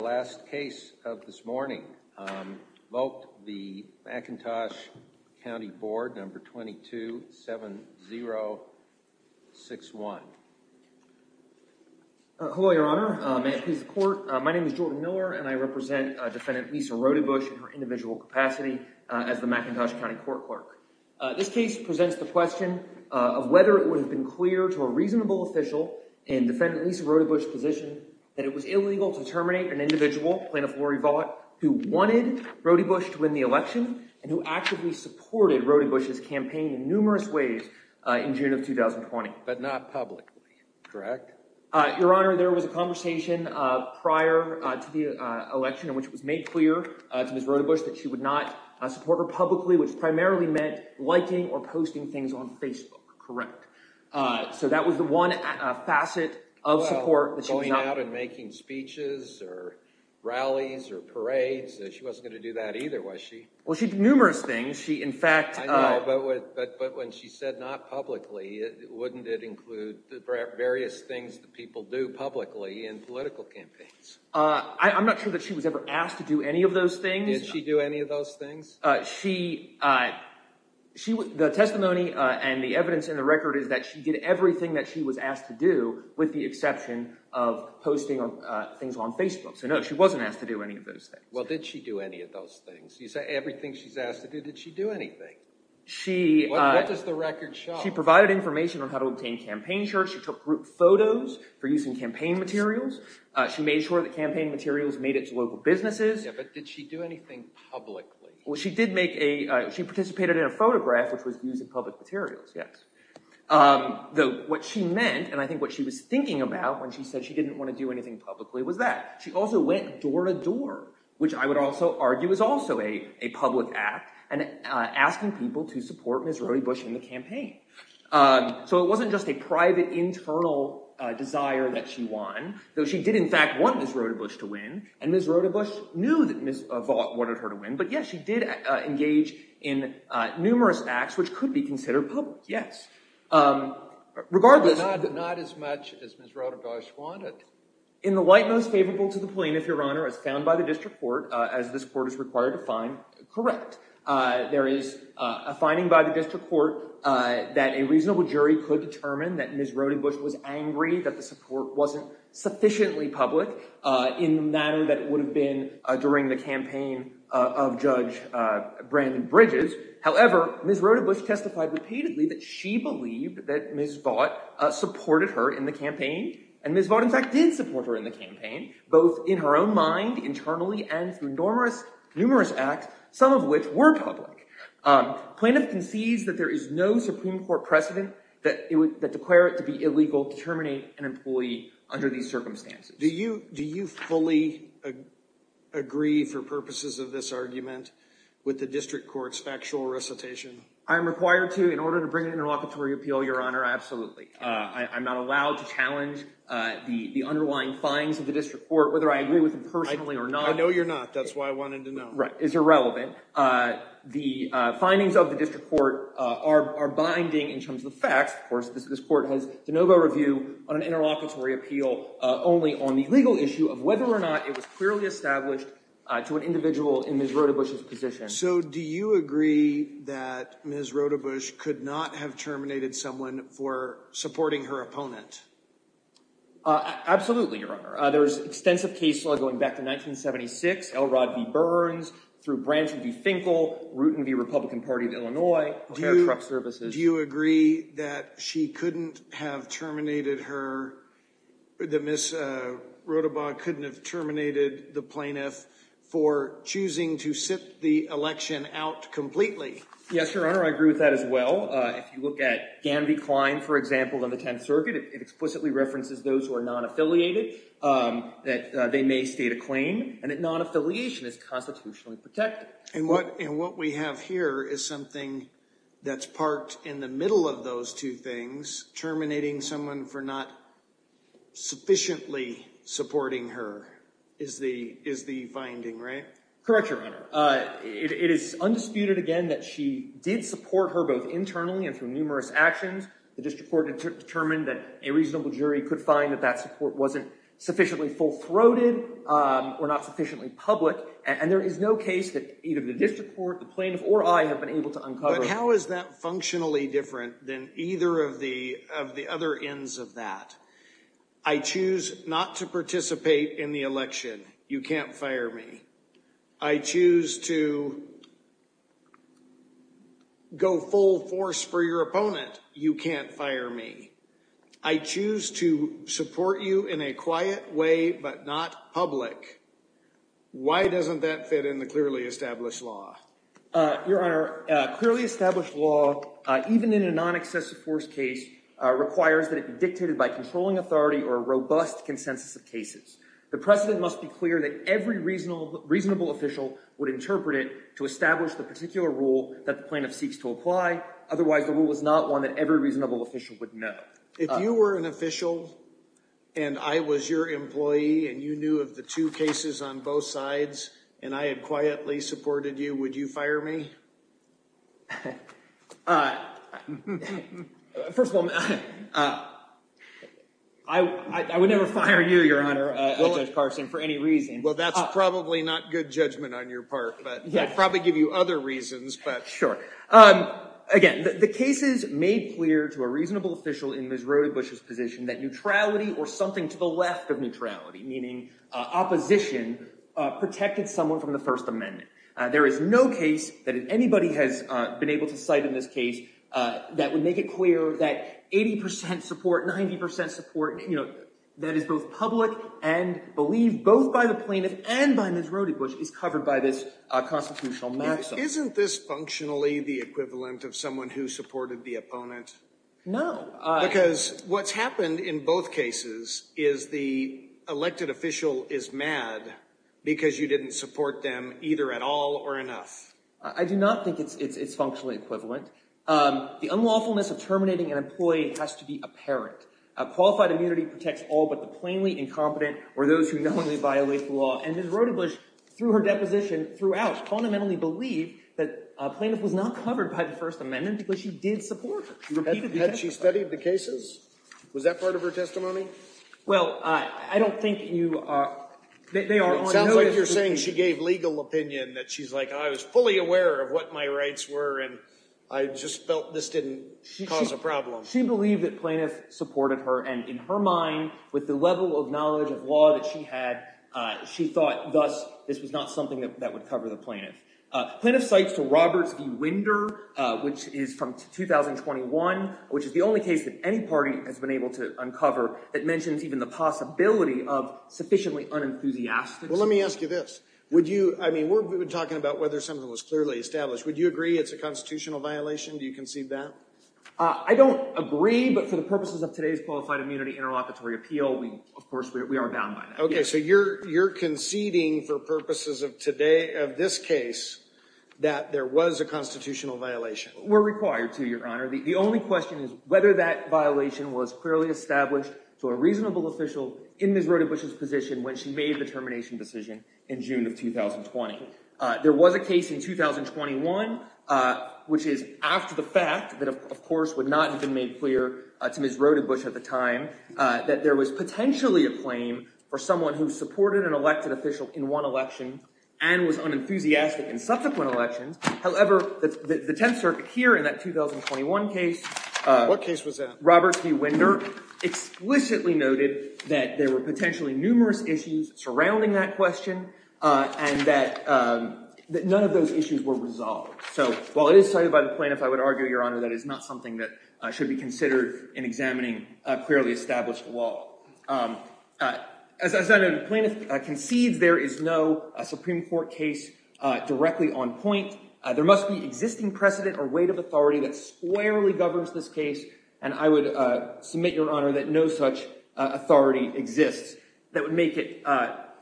The last case of this morning, vote the McIntosh County Board, number 227061. Hello, Your Honor. May it please the Court, my name is Jordan Miller and I represent Defendant Lisa Rodebusch in her individual capacity as the McIntosh County Court Clerk. This case presents the question of whether it would have been clear to a reasonable official in Defendant Lisa Rodebusch's position that it was illegal to terminate an individual, Plaintiff Lori Vaught, who wanted Rodebusch to win the election and who actively supported Rodebusch's campaign in numerous ways in June of 2020. But not publicly, correct? Your Honor, there was a conversation prior to the election in which it was made clear to Ms. Rodebusch that she would not support her publicly, which primarily meant liking or posting things on Facebook, correct? So that was the one facet of support that she was not... Going out and making speeches or rallies or parades, she wasn't going to do that either, was she? Well, she did numerous things. She, in fact... I know, but when she said not publicly, wouldn't it include the various things that people do publicly in political campaigns? I'm not sure that she was ever asked to do any of those things. Did she do any of those things? She... The testimony and the evidence in the record is that she did everything that she was asked to do with the exception of posting things on Facebook. So no, she wasn't asked to do any of those things. Well, did she do any of those things? You say everything she's asked to do, did she do anything? What does the record show? She provided information on how to obtain campaign shirts. She took group photos for using campaign materials. She made sure that campaign materials made it to local businesses. Yeah, but did she do anything publicly? Well, she did make a... She participated in a photograph, which was used in public materials, yes. Though, what she meant, and I think what she was thinking about when she said she didn't want to do anything publicly, was that. She also went door to door, which I would also argue is also a public act, and asking people to support Ms. Rodebusch in the campaign. So it wasn't just a private, internal desire that she won, though she did, in fact, want Ms. Rodebusch to win, and Ms. Rodebusch knew that Ms. Vaught wanted her to win. But yes, she did engage in numerous acts, which could be considered public, yes. Regardless... But not as much as Ms. Rodebusch wanted. In the light most favorable to the plaintiff, Your Honor, as found by the district court, as this court is required to find, correct. There is a finding by the district court that a reasonable jury could determine that Ms. Rodebusch was angry that the support wasn't sufficiently public in the manner that it would have been during the campaign of Judge Brandon Bridges. However, Ms. Rodebusch testified repeatedly that she believed that Ms. Vaught supported her in the campaign, and Ms. Vaught, in fact, did support her in the campaign, both in her own mind, internally, and through numerous acts, some of which were public. Plaintiff concedes that there is no Supreme Court precedent that it would... That to declare it to be illegal to terminate an employee under these circumstances. Do you fully agree, for purposes of this argument, with the district court's factual recitation? I am required to, in order to bring an interlocutory appeal, Your Honor, absolutely. I'm not allowed to challenge the underlying findings of the district court, whether I agree with them personally or not. I know you're not. That's why I wanted to know. Right. It's irrelevant. The findings of the district court are binding in terms of the facts. Of course, this court has de novo review on an interlocutory appeal only on the legal issue of whether or not it was clearly established to an individual in Ms. Rodebusch's position. So do you agree that Ms. Rodebusch could not have terminated someone for supporting her opponent? Absolutely, Your Honor. There's extensive case law going back to 1976, L. Rod B. Burns, through Branch V. Finkel, Rooten V. Republican Party of Illinois, Fair Truck Services. Do you agree that she couldn't have terminated her, that Ms. Rodebusch couldn't have terminated the plaintiff for choosing to sit the election out completely? Yes, Your Honor. I agree with that as well. If you look at Gandy Klein, for example, on the 10th Circuit, it explicitly references those who are non-affiliated, that they may state a claim and that non-affiliation is constitutionally protected. And what we have here is something that's parked in the middle of those two things. Terminating someone for not sufficiently supporting her is the finding, right? Correct, Your Honor. It is undisputed, again, that she did support her both internally and through numerous actions. The district court determined that a reasonable jury could find that that support wasn't sufficiently full-throated or not sufficiently public. And there is no case that either the district court, the plaintiff, or I have been able to uncover. How is that functionally different than either of the other ends of that? I choose not to participate in the election. You can't fire me. I choose to go full force for your opponent. You can't fire me. I choose to support you in a quiet way, but not public. Why doesn't that fit in the clearly established law? Your Honor, clearly established law, even in a non-excessive force case, requires that it be dictated by controlling authority or a robust consensus of cases. The precedent must be clear that every reasonable official would interpret it to establish the particular rule that the plaintiff seeks to apply. Otherwise, the rule is not one that every reasonable official would know. If you were an official, and I was your employee, and you knew of the two cases on both sides, and I had quietly supported you, would you fire me? First of all, I would never fire you, Your Honor, Judge Carson, for any reason. Well, that's probably not good judgment on your part, but I'd probably give you other reasons. Sure. Again, the case is made clear to a reasonable official in Ms. Rodebusch's position that neutrality or something to the left of neutrality, meaning opposition, protected someone from the First Amendment. There is no case that anybody has been able to cite in this case that would make it clear that 80 percent support, 90 percent support, you know, that is both public and believed both by the plaintiff and by Ms. Rodebusch is covered by this constitutional maxim. Isn't this functionally the equivalent of someone who supported the opponent? No. Because what's happened in both cases is the elected official is mad because you didn't support them either at all or enough. I do not think it's functionally equivalent. The unlawfulness of terminating an employee has to be apparent. Qualified immunity protects all but the plainly incompetent or those who knowingly violate the law. And Ms. Rodebusch, through her deposition throughout, fundamentally believed that a plaintiff was not covered by the First Amendment because she did support her. Had she studied the cases? Was that part of her testimony? Well, I don't think you are. They are. Sounds like you're saying she gave legal opinion that she's like, I was fully aware of what my rights were and I just felt this didn't cause a problem. She believed that plaintiffs supported her. And in her mind, with the level of knowledge of law that she had, she thought, thus, this was not something that would cover the plaintiff. Plaintiff cites to Roberts v. Winder, which is from 2021, which is the only case that any party has been able to uncover that mentions even the possibility of sufficiently unenthusiastic. Well, let me ask you this. Would you I mean, we're talking about whether something was clearly established. Would you agree it's a constitutional violation? Do you concede that? I don't agree. But for the purposes of today's qualified immunity, interlocutory appeal, we of course, we are bound by that. OK, so you're you're conceding for purposes of today of this case that there was a constitutional violation. We're required to, Your Honor. The only question is whether that violation was clearly established to a reasonable official in Ms. Rodebusch's position when she made the termination decision in June of 2020. There was a case in 2021, which is after the fact that, of course, would not have been made clear to Ms. Rodebusch at the time that there was potentially a claim for someone who supported an elected official in one election and was unenthusiastic in subsequent elections. However, the Tenth Circuit here in that 2021 case, what case was that? Roberts v. Winder explicitly noted that there were potentially numerous issues surrounding that that none of those issues were resolved. So while it is cited by the plaintiff, I would argue, Your Honor, that is not something that should be considered in examining a clearly established law. As I noted, the plaintiff concedes there is no Supreme Court case directly on point. There must be existing precedent or weight of authority that squarely governs this case. And I would submit, Your Honor, that no such authority exists that would make it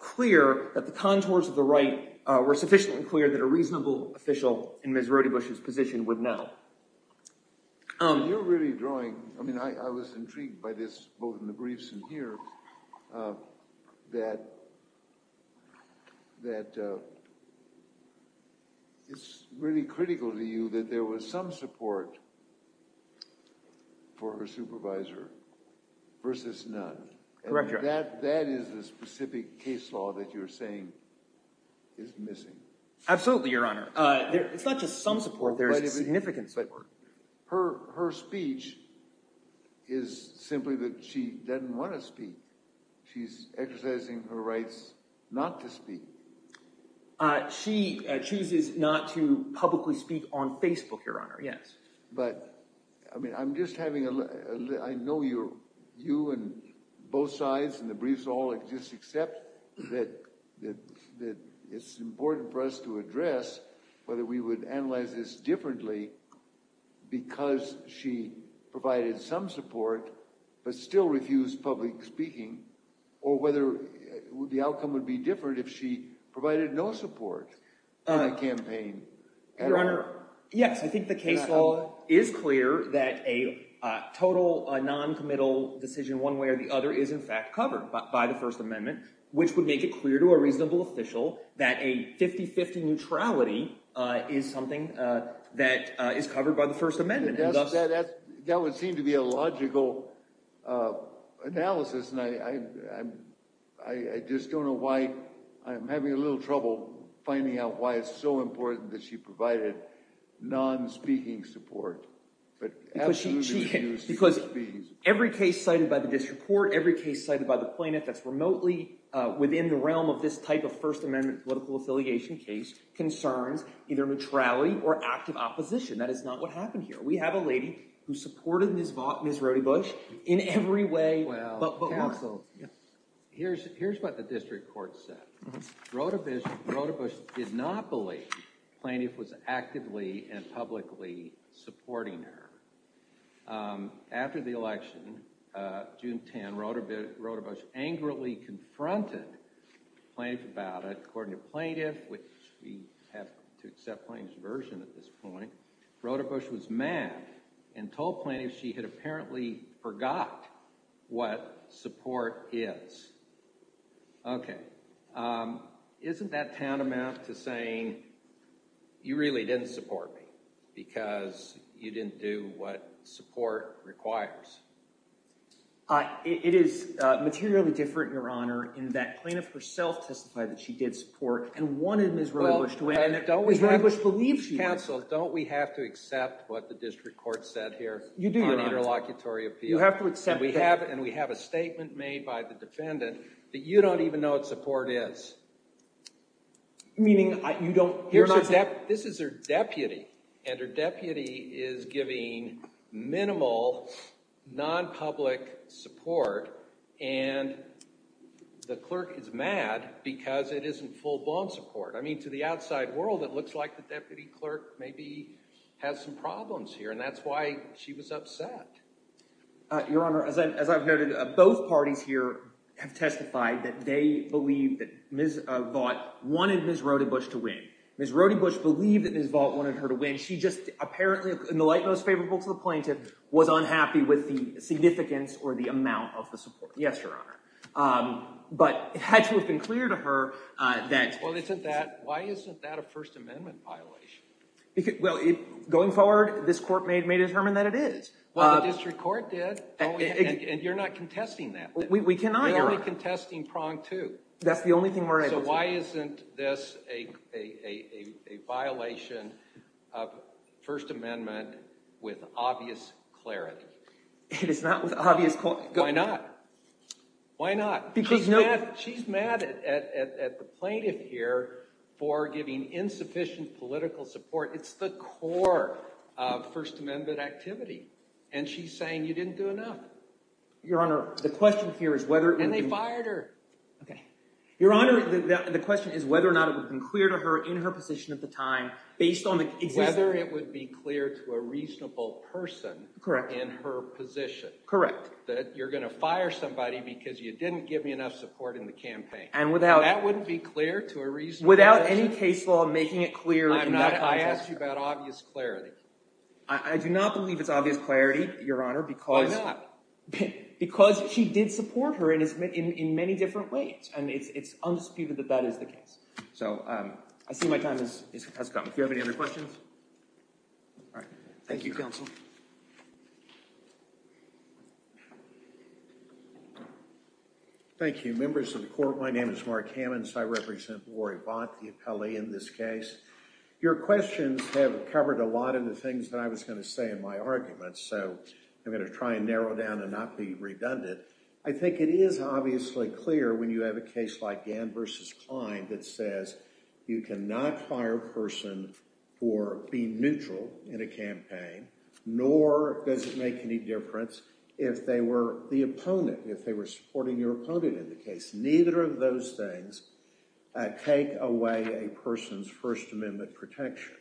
clear that the contours of the right were sufficiently clear that a reasonable official in Ms. Rodebusch's position would not. You're really drawing. I mean, I was intrigued by this, both in the briefs and here, that that it's really critical to you that there was some support for her supervisor versus none. Correct. That that is a specific case law that you're saying is missing. Absolutely, Your Honor. It's not just some support. There is a significant support. Her her speech is simply that she doesn't want to speak. She's exercising her rights not to speak. She chooses not to publicly speak on Facebook, Your Honor. Yes. But I mean, I'm just having a look. I know you and both sides in the briefs all just accept that that that it's important for us to address whether we would analyze this differently because she provided some support but still refused public speaking or whether the outcome would be different if she provided no support in the campaign. Your Honor, yes, I think the case law is clear that a total noncommittal decision one way or the other is, in fact, covered by the First Amendment, which would make it clear to a reasonable official that a 50-50 neutrality is something that is covered by the First Amendment. That would seem to be a logical analysis, and I just don't know why I'm having a I think it's so important that she provided non-speaking support, but because every case cited by the district court, every case cited by the plaintiff that's remotely within the realm of this type of First Amendment political affiliation case concerns either neutrality or active opposition. That is not what happened here. We have a lady who supported Ms. Vaught, Ms. Rodebusch in every way. Here's here's what the district court said. Rodebusch did not believe the plaintiff was actively and publicly supporting her. After the election, June 10, Rodebusch angrily confronted the plaintiff about it. According to the plaintiff, which we have to accept the plaintiff's version at this point, Rodebusch was mad and told the plaintiff she had apparently forgot what support is. OK, isn't that tantamount to saying you really didn't support me because you didn't do what support requires? It is materially different, Your Honor, in that plaintiff herself testified that she did support and wanted Ms. Rodebusch to admit that Ms. Rodebusch believes she did. Counsel, don't we have to accept what the district court said here? You do, Your Honor. On interlocutory appeal. You have to accept that. And we have a statement made by the defendant that you don't even know what support is. Meaning you don't. This is her deputy and her deputy is giving minimal, non-public support. And the clerk is mad because it isn't full-blown support. I mean, to the outside world, it looks like the deputy clerk maybe has some problems here. And that's why she was upset. Your Honor, as I've noted, both parties here have testified that they believe that Ms. Vaught wanted Ms. Rodebusch to win. Ms. Rodebusch believed that Ms. Vaught wanted her to win. She just apparently, in the light most favorable to the plaintiff, was unhappy with the significance or the amount of the support. Yes, Your Honor. But it had to have been clear to her that. Well, isn't that, why isn't that a First Amendment violation? Well, going forward, this court may determine that it is. Well, the district court did. And you're not contesting that. We cannot, Your Honor. You're only contesting prong two. That's the only thing we're able to do. So why isn't this a violation of First Amendment with obvious clarity? It is not with obvious clarity. Why not? Why not? She's mad at the plaintiff here for giving insufficient political support. It's the core of First Amendment activity. And she's saying you didn't do enough. Your Honor, the question here is whether. And they fired her. Okay. Your Honor, the question is whether or not it would have been clear to her in her position at the time, based on the. Whether it would be clear to a reasonable person. Correct. In her position. Correct. That you're going to fire somebody because you didn't give me enough support in the campaign. And without. That wouldn't be clear to a reasonable person. Without any case law making it clear. I'm not, I asked you about obvious clarity. I do not believe it's obvious clarity, Your Honor, because. Why not? Because she did support her in many different ways. And it's undisputed that that is the case. So I see my time has come. Do you have any other questions? All right. Thank you, counsel. Thank you. Members of the court, my name is Mark Hammons. I represent Lori Bott, the appellee in this case. Your questions have covered a lot of the things that I was going to say in my arguments. So I'm going to try and narrow down and not be redundant. I think it is obviously clear when you have a case like Gann versus Klein that says you cannot fire a person for being neutral in a campaign, nor does it make any difference if they were the opponent, if they were supporting your opponent in the case. Neither of those things take away a person's First Amendment protection.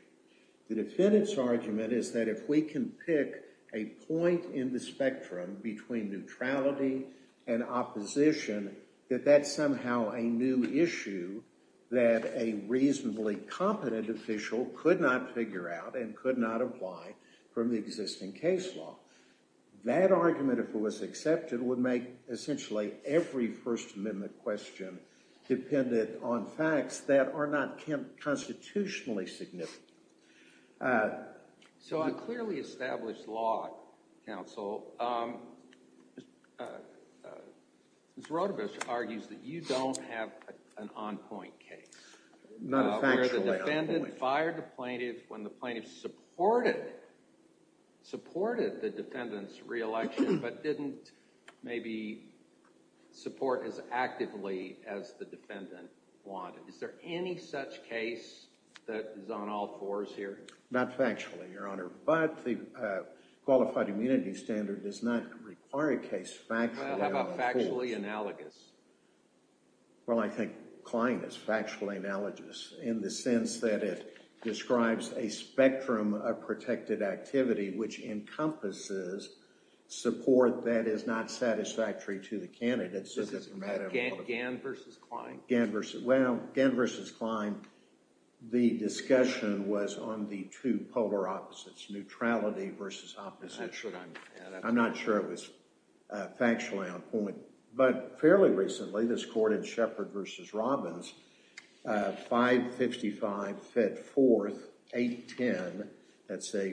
The defendant's argument is that if we can pick a point in the spectrum between neutrality and opposition, that that's somehow a new issue that a reasonably competent official could not figure out and could not apply from the existing case law. That argument, if it was accepted, would make essentially every First Amendment question dependent on facts that are not constitutionally significant. So on clearly established law, counsel, Mr. Rotobish argues that you don't have an on-point case. Not a factually on-point case. The defendant fired the plaintiff when the plaintiff supported the defendant's re-election, but didn't maybe support as actively as the defendant wanted. Is there any such case that is on all fours here? Not factually, Your Honor. But the qualified immunity standard does not require a case factually on the floor. Well, how about factually analogous? Well, I think Klein is factually analogous in the sense that it describes a spectrum of protected activity which encompasses support that is not satisfactory to the candidate. So this is Gan versus Klein? Gan versus, well, Gan versus Klein, the discussion was on the two polar opposites, neutrality versus opposition. How should I add that? I'm not sure it was factually on point. But fairly recently, this court in Shepard versus Robbins, 555-54-810, that's a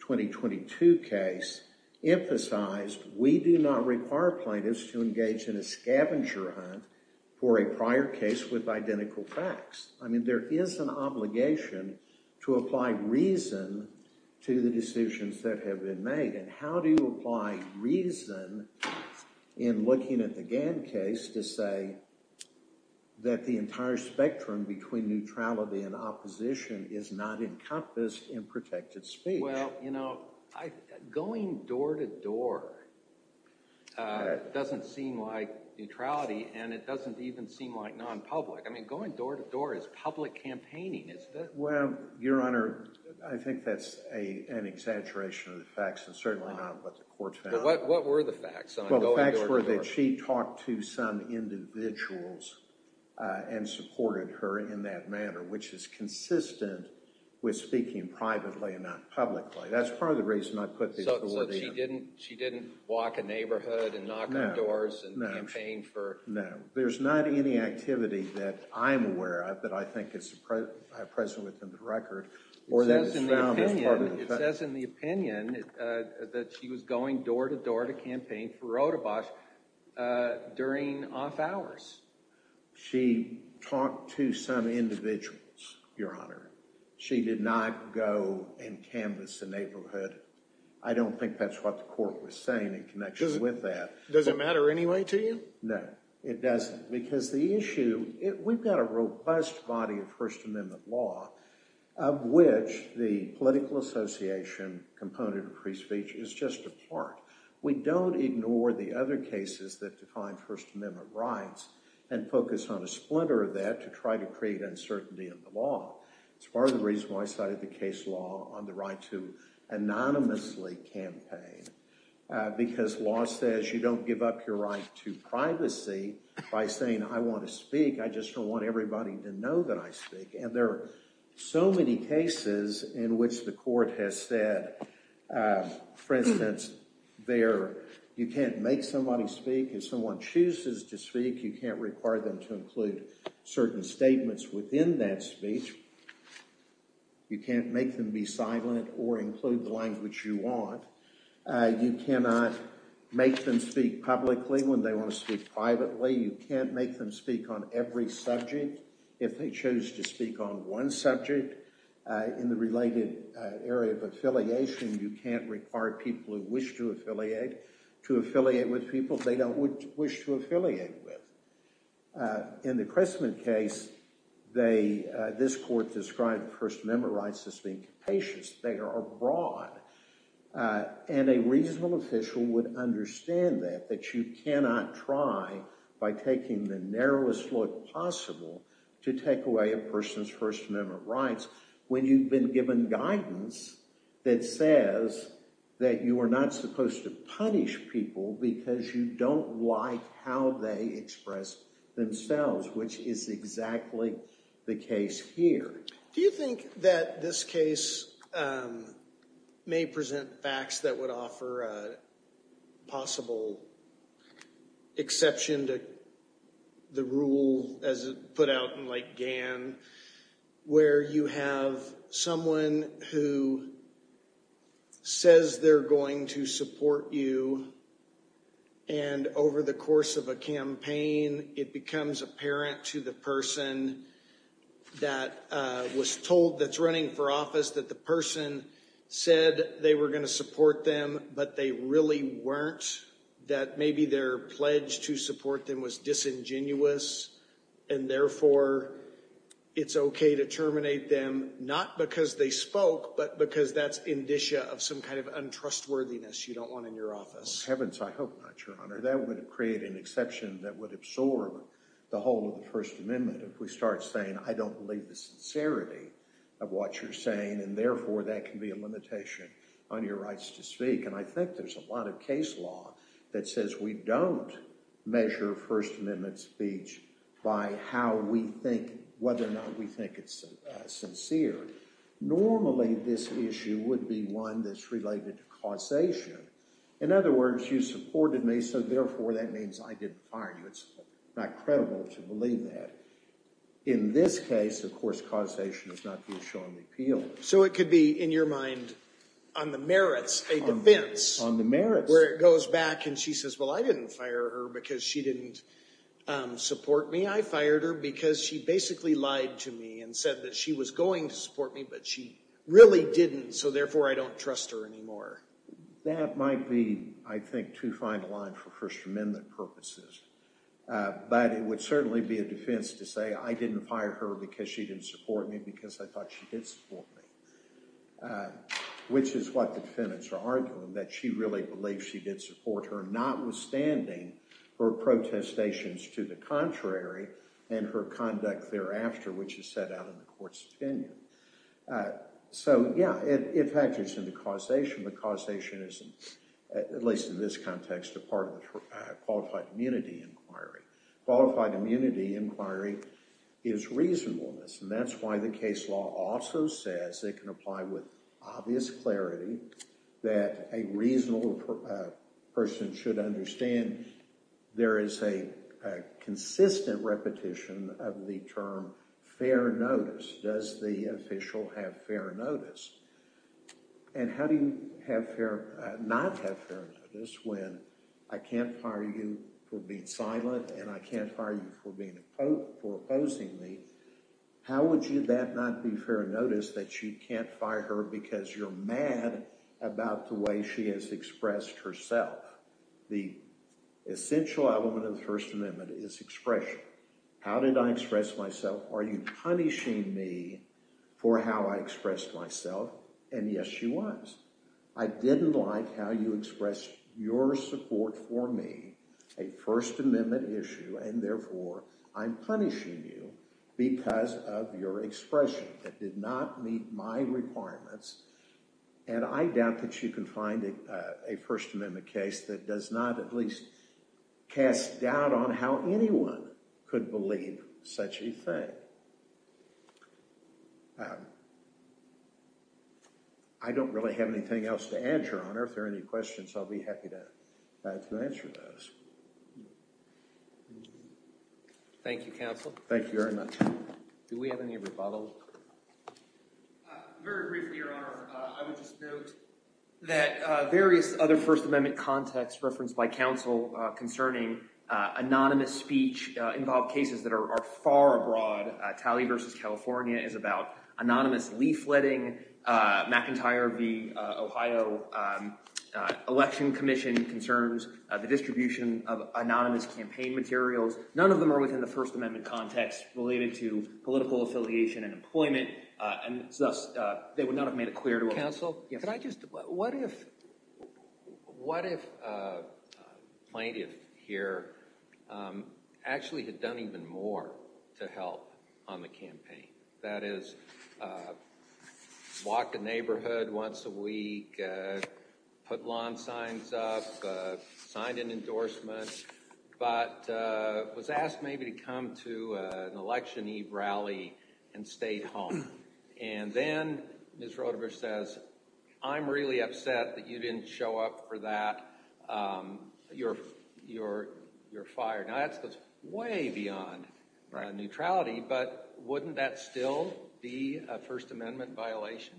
2022 case, emphasized we do not require plaintiffs to engage in a scavenger hunt for a prior case with identical facts. I mean, there is an obligation to apply reason to the decisions that have been made. And how do you apply reason in looking at the Gan case to say that the entire spectrum between neutrality and opposition is not encompassed in protected speech? Well, you know, going door to door doesn't seem like neutrality. And it doesn't even seem like non-public. I mean, going door to door is public campaigning. Well, Your Honor, I think that's an exaggeration of the facts, and certainly not what the court found. What were the facts on going door to door? Well, the facts were that she talked to some individuals and supported her in that manner, which is consistent with speaking privately and not publicly. That's part of the reason I put these four together. So she didn't walk a neighborhood and knock on doors and campaign for? No. There's not any activity that I'm aware of that I think is present within the record or that is found as part of the facts. It says in the opinion that she was going door to door to campaign for Rotebosch during off hours. She talked to some individuals, Your Honor. She did not go and canvas a neighborhood. I don't think that's what the court was saying in connection with that. Does it matter anyway to you? No. It doesn't. Because the issue, we've got a robust body of First Amendment law of which the political association component of free speech is just a part. We don't ignore the other cases that define First Amendment rights and focus on a splinter of that to try to create uncertainty in the law. It's part of the reason why I cited the case law on the right to anonymously campaign. Because law says you don't give up your right to privacy by saying, I want to speak. I just don't want everybody to know that I speak. And there are so many cases in which the court has said, for instance, you can't make somebody speak if someone chooses to speak. You can't require them to include certain statements within that speech. You can't make them be silent or include the language you want. You cannot make them speak publicly when they want to speak privately. You can't make them speak on every subject if they choose to speak on one subject. In the related area of affiliation, you can't require people who wish to affiliate to affiliate with people they don't wish to affiliate with. In the Christman case, this court described First Amendment rights as being capacious. They are broad. And a reasonable official would understand that, that you cannot try, by taking the narrowest look possible, to take away a person's First Amendment rights when you've been given guidance that says that you are not supposed to punish people because you don't like how they express themselves, which is exactly the case here. Do you think that this case may present facts that would offer a possible exception to the rule, as put out in Gan, where you have someone who says they're going to support you, and over the course of a campaign, it becomes apparent to the person that was told that's running for office that the person said they were going to support them, but they really weren't, that maybe their pledge to support them was disingenuous, and therefore, it's okay to terminate them, not because they spoke, but because that's indicia of some kind of untrustworthiness you don't want in your office? Heavens, I hope not, Your Honor. That would create an exception that would absorb the whole of the First Amendment, if we start saying, I don't believe the sincerity of what you're saying, and therefore, that can be a limitation on your rights to speak. And I think there's a lot of case law that says we don't measure First Amendment speech by how we think, whether or not we think it's sincere. Normally, this issue would be one that's related to causation. In other words, you supported me, so therefore, that means I didn't fire you. It's not credible to believe that. In this case, of course, causation is not the assuring appeal. So it could be, in your mind, on the merits, a defense. On the merits. Where it goes back and she says, well, I didn't fire her because she didn't support me. I fired her because she basically lied to me and said that she was going to support me, but she really didn't, so therefore, I don't trust her anymore. That might be, I think, too fine a line for First Amendment purposes, but it would certainly be a defense to say, I didn't fire her because she didn't support me because I thought she did support me, which is what the defendants are arguing, that she really believed she did support her, notwithstanding her protestations to the contrary and her conduct thereafter, which is set out in the court's opinion. So, yeah, it factors into causation, but causation isn't, at least in this context, a part of the qualified immunity inquiry. Qualified immunity inquiry is reasonableness, and that's why the case law also says it can apply with obvious clarity that a reasonable person should understand there is a consistent repetition of the term fair notice. Does the official have fair notice? And how do you not have fair notice when I can't fire you for being silent and I can't fire you for opposing me? How would that not be fair notice that you can't fire her because you're mad about the way she has expressed herself? The essential element of the First Amendment is expression. How did I express myself? Are you punishing me for how I expressed myself? And yes, she was. I didn't like how you expressed your support for me, a First Amendment issue, and therefore I'm punishing you because of your expression. That did not meet my requirements, and I doubt that you can find a First Amendment case that does not at least cast doubt on how anyone could believe such a thing. I don't really have anything else to add, Your Honor. If there are any questions, I'll be happy to answer those. Thank you, counsel. Thank you very much. Do we have any rebuttals? Very briefly, Your Honor, I would just note that various other First Amendment contexts referenced by counsel concerning anonymous speech involve cases that are far abroad. Talley v. California is about anonymous leafletting. McIntyre v. Ohio Election Commission concerns the distribution of anonymous campaign materials. None of them are within the First Amendment context related to political affiliation and employment, and thus they would not have made it clear to us. What if a plaintiff here actually had done even more to help on the campaign? That is, walk the neighborhood once a week, put lawn signs up, signed an endorsement, but was asked maybe to come to an election eve rally and stayed home. And then Ms. Roderich says, I'm really upset that you didn't show up for that. You're fired. Now, that goes way beyond neutrality, but wouldn't that still be a First Amendment violation?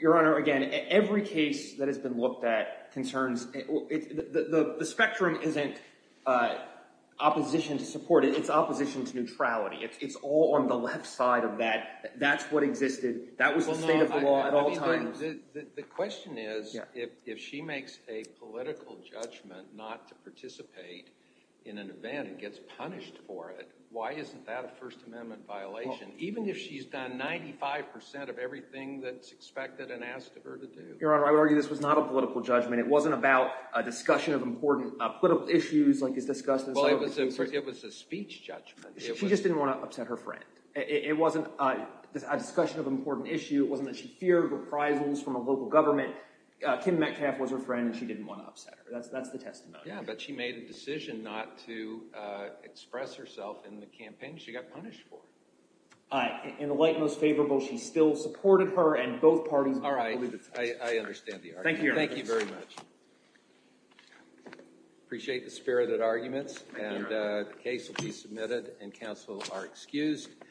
Your Honor, again, every case that has been looked at concerns the spectrum isn't opposition to support. It's opposition to neutrality. It's all on the left side of that. That's what existed. That was the state of the law at all times. The question is, if she makes a political judgment not to participate in an event and gets punished for it, why isn't that a First Amendment violation, even if she's done 95% of everything that's expected and asked of her to do? Your Honor, I would argue this was not a political judgment. It wasn't about a discussion of important political issues like is discussed in some of the cases. It was a speech judgment. She just didn't want to upset her friend. It wasn't a discussion of an important issue. It wasn't that she feared reprisals from a local government. Kim Metcalfe was her friend, and she didn't want to upset her. That's the testimony. Yeah, but she made a decision not to express herself in the campaign she got punished for. All right. In the light most favorable, she still supported her, and both parties— All right. I understand the argument. Thank you very much. Appreciate the spirited arguments, and the case will be submitted. Counsel are excused.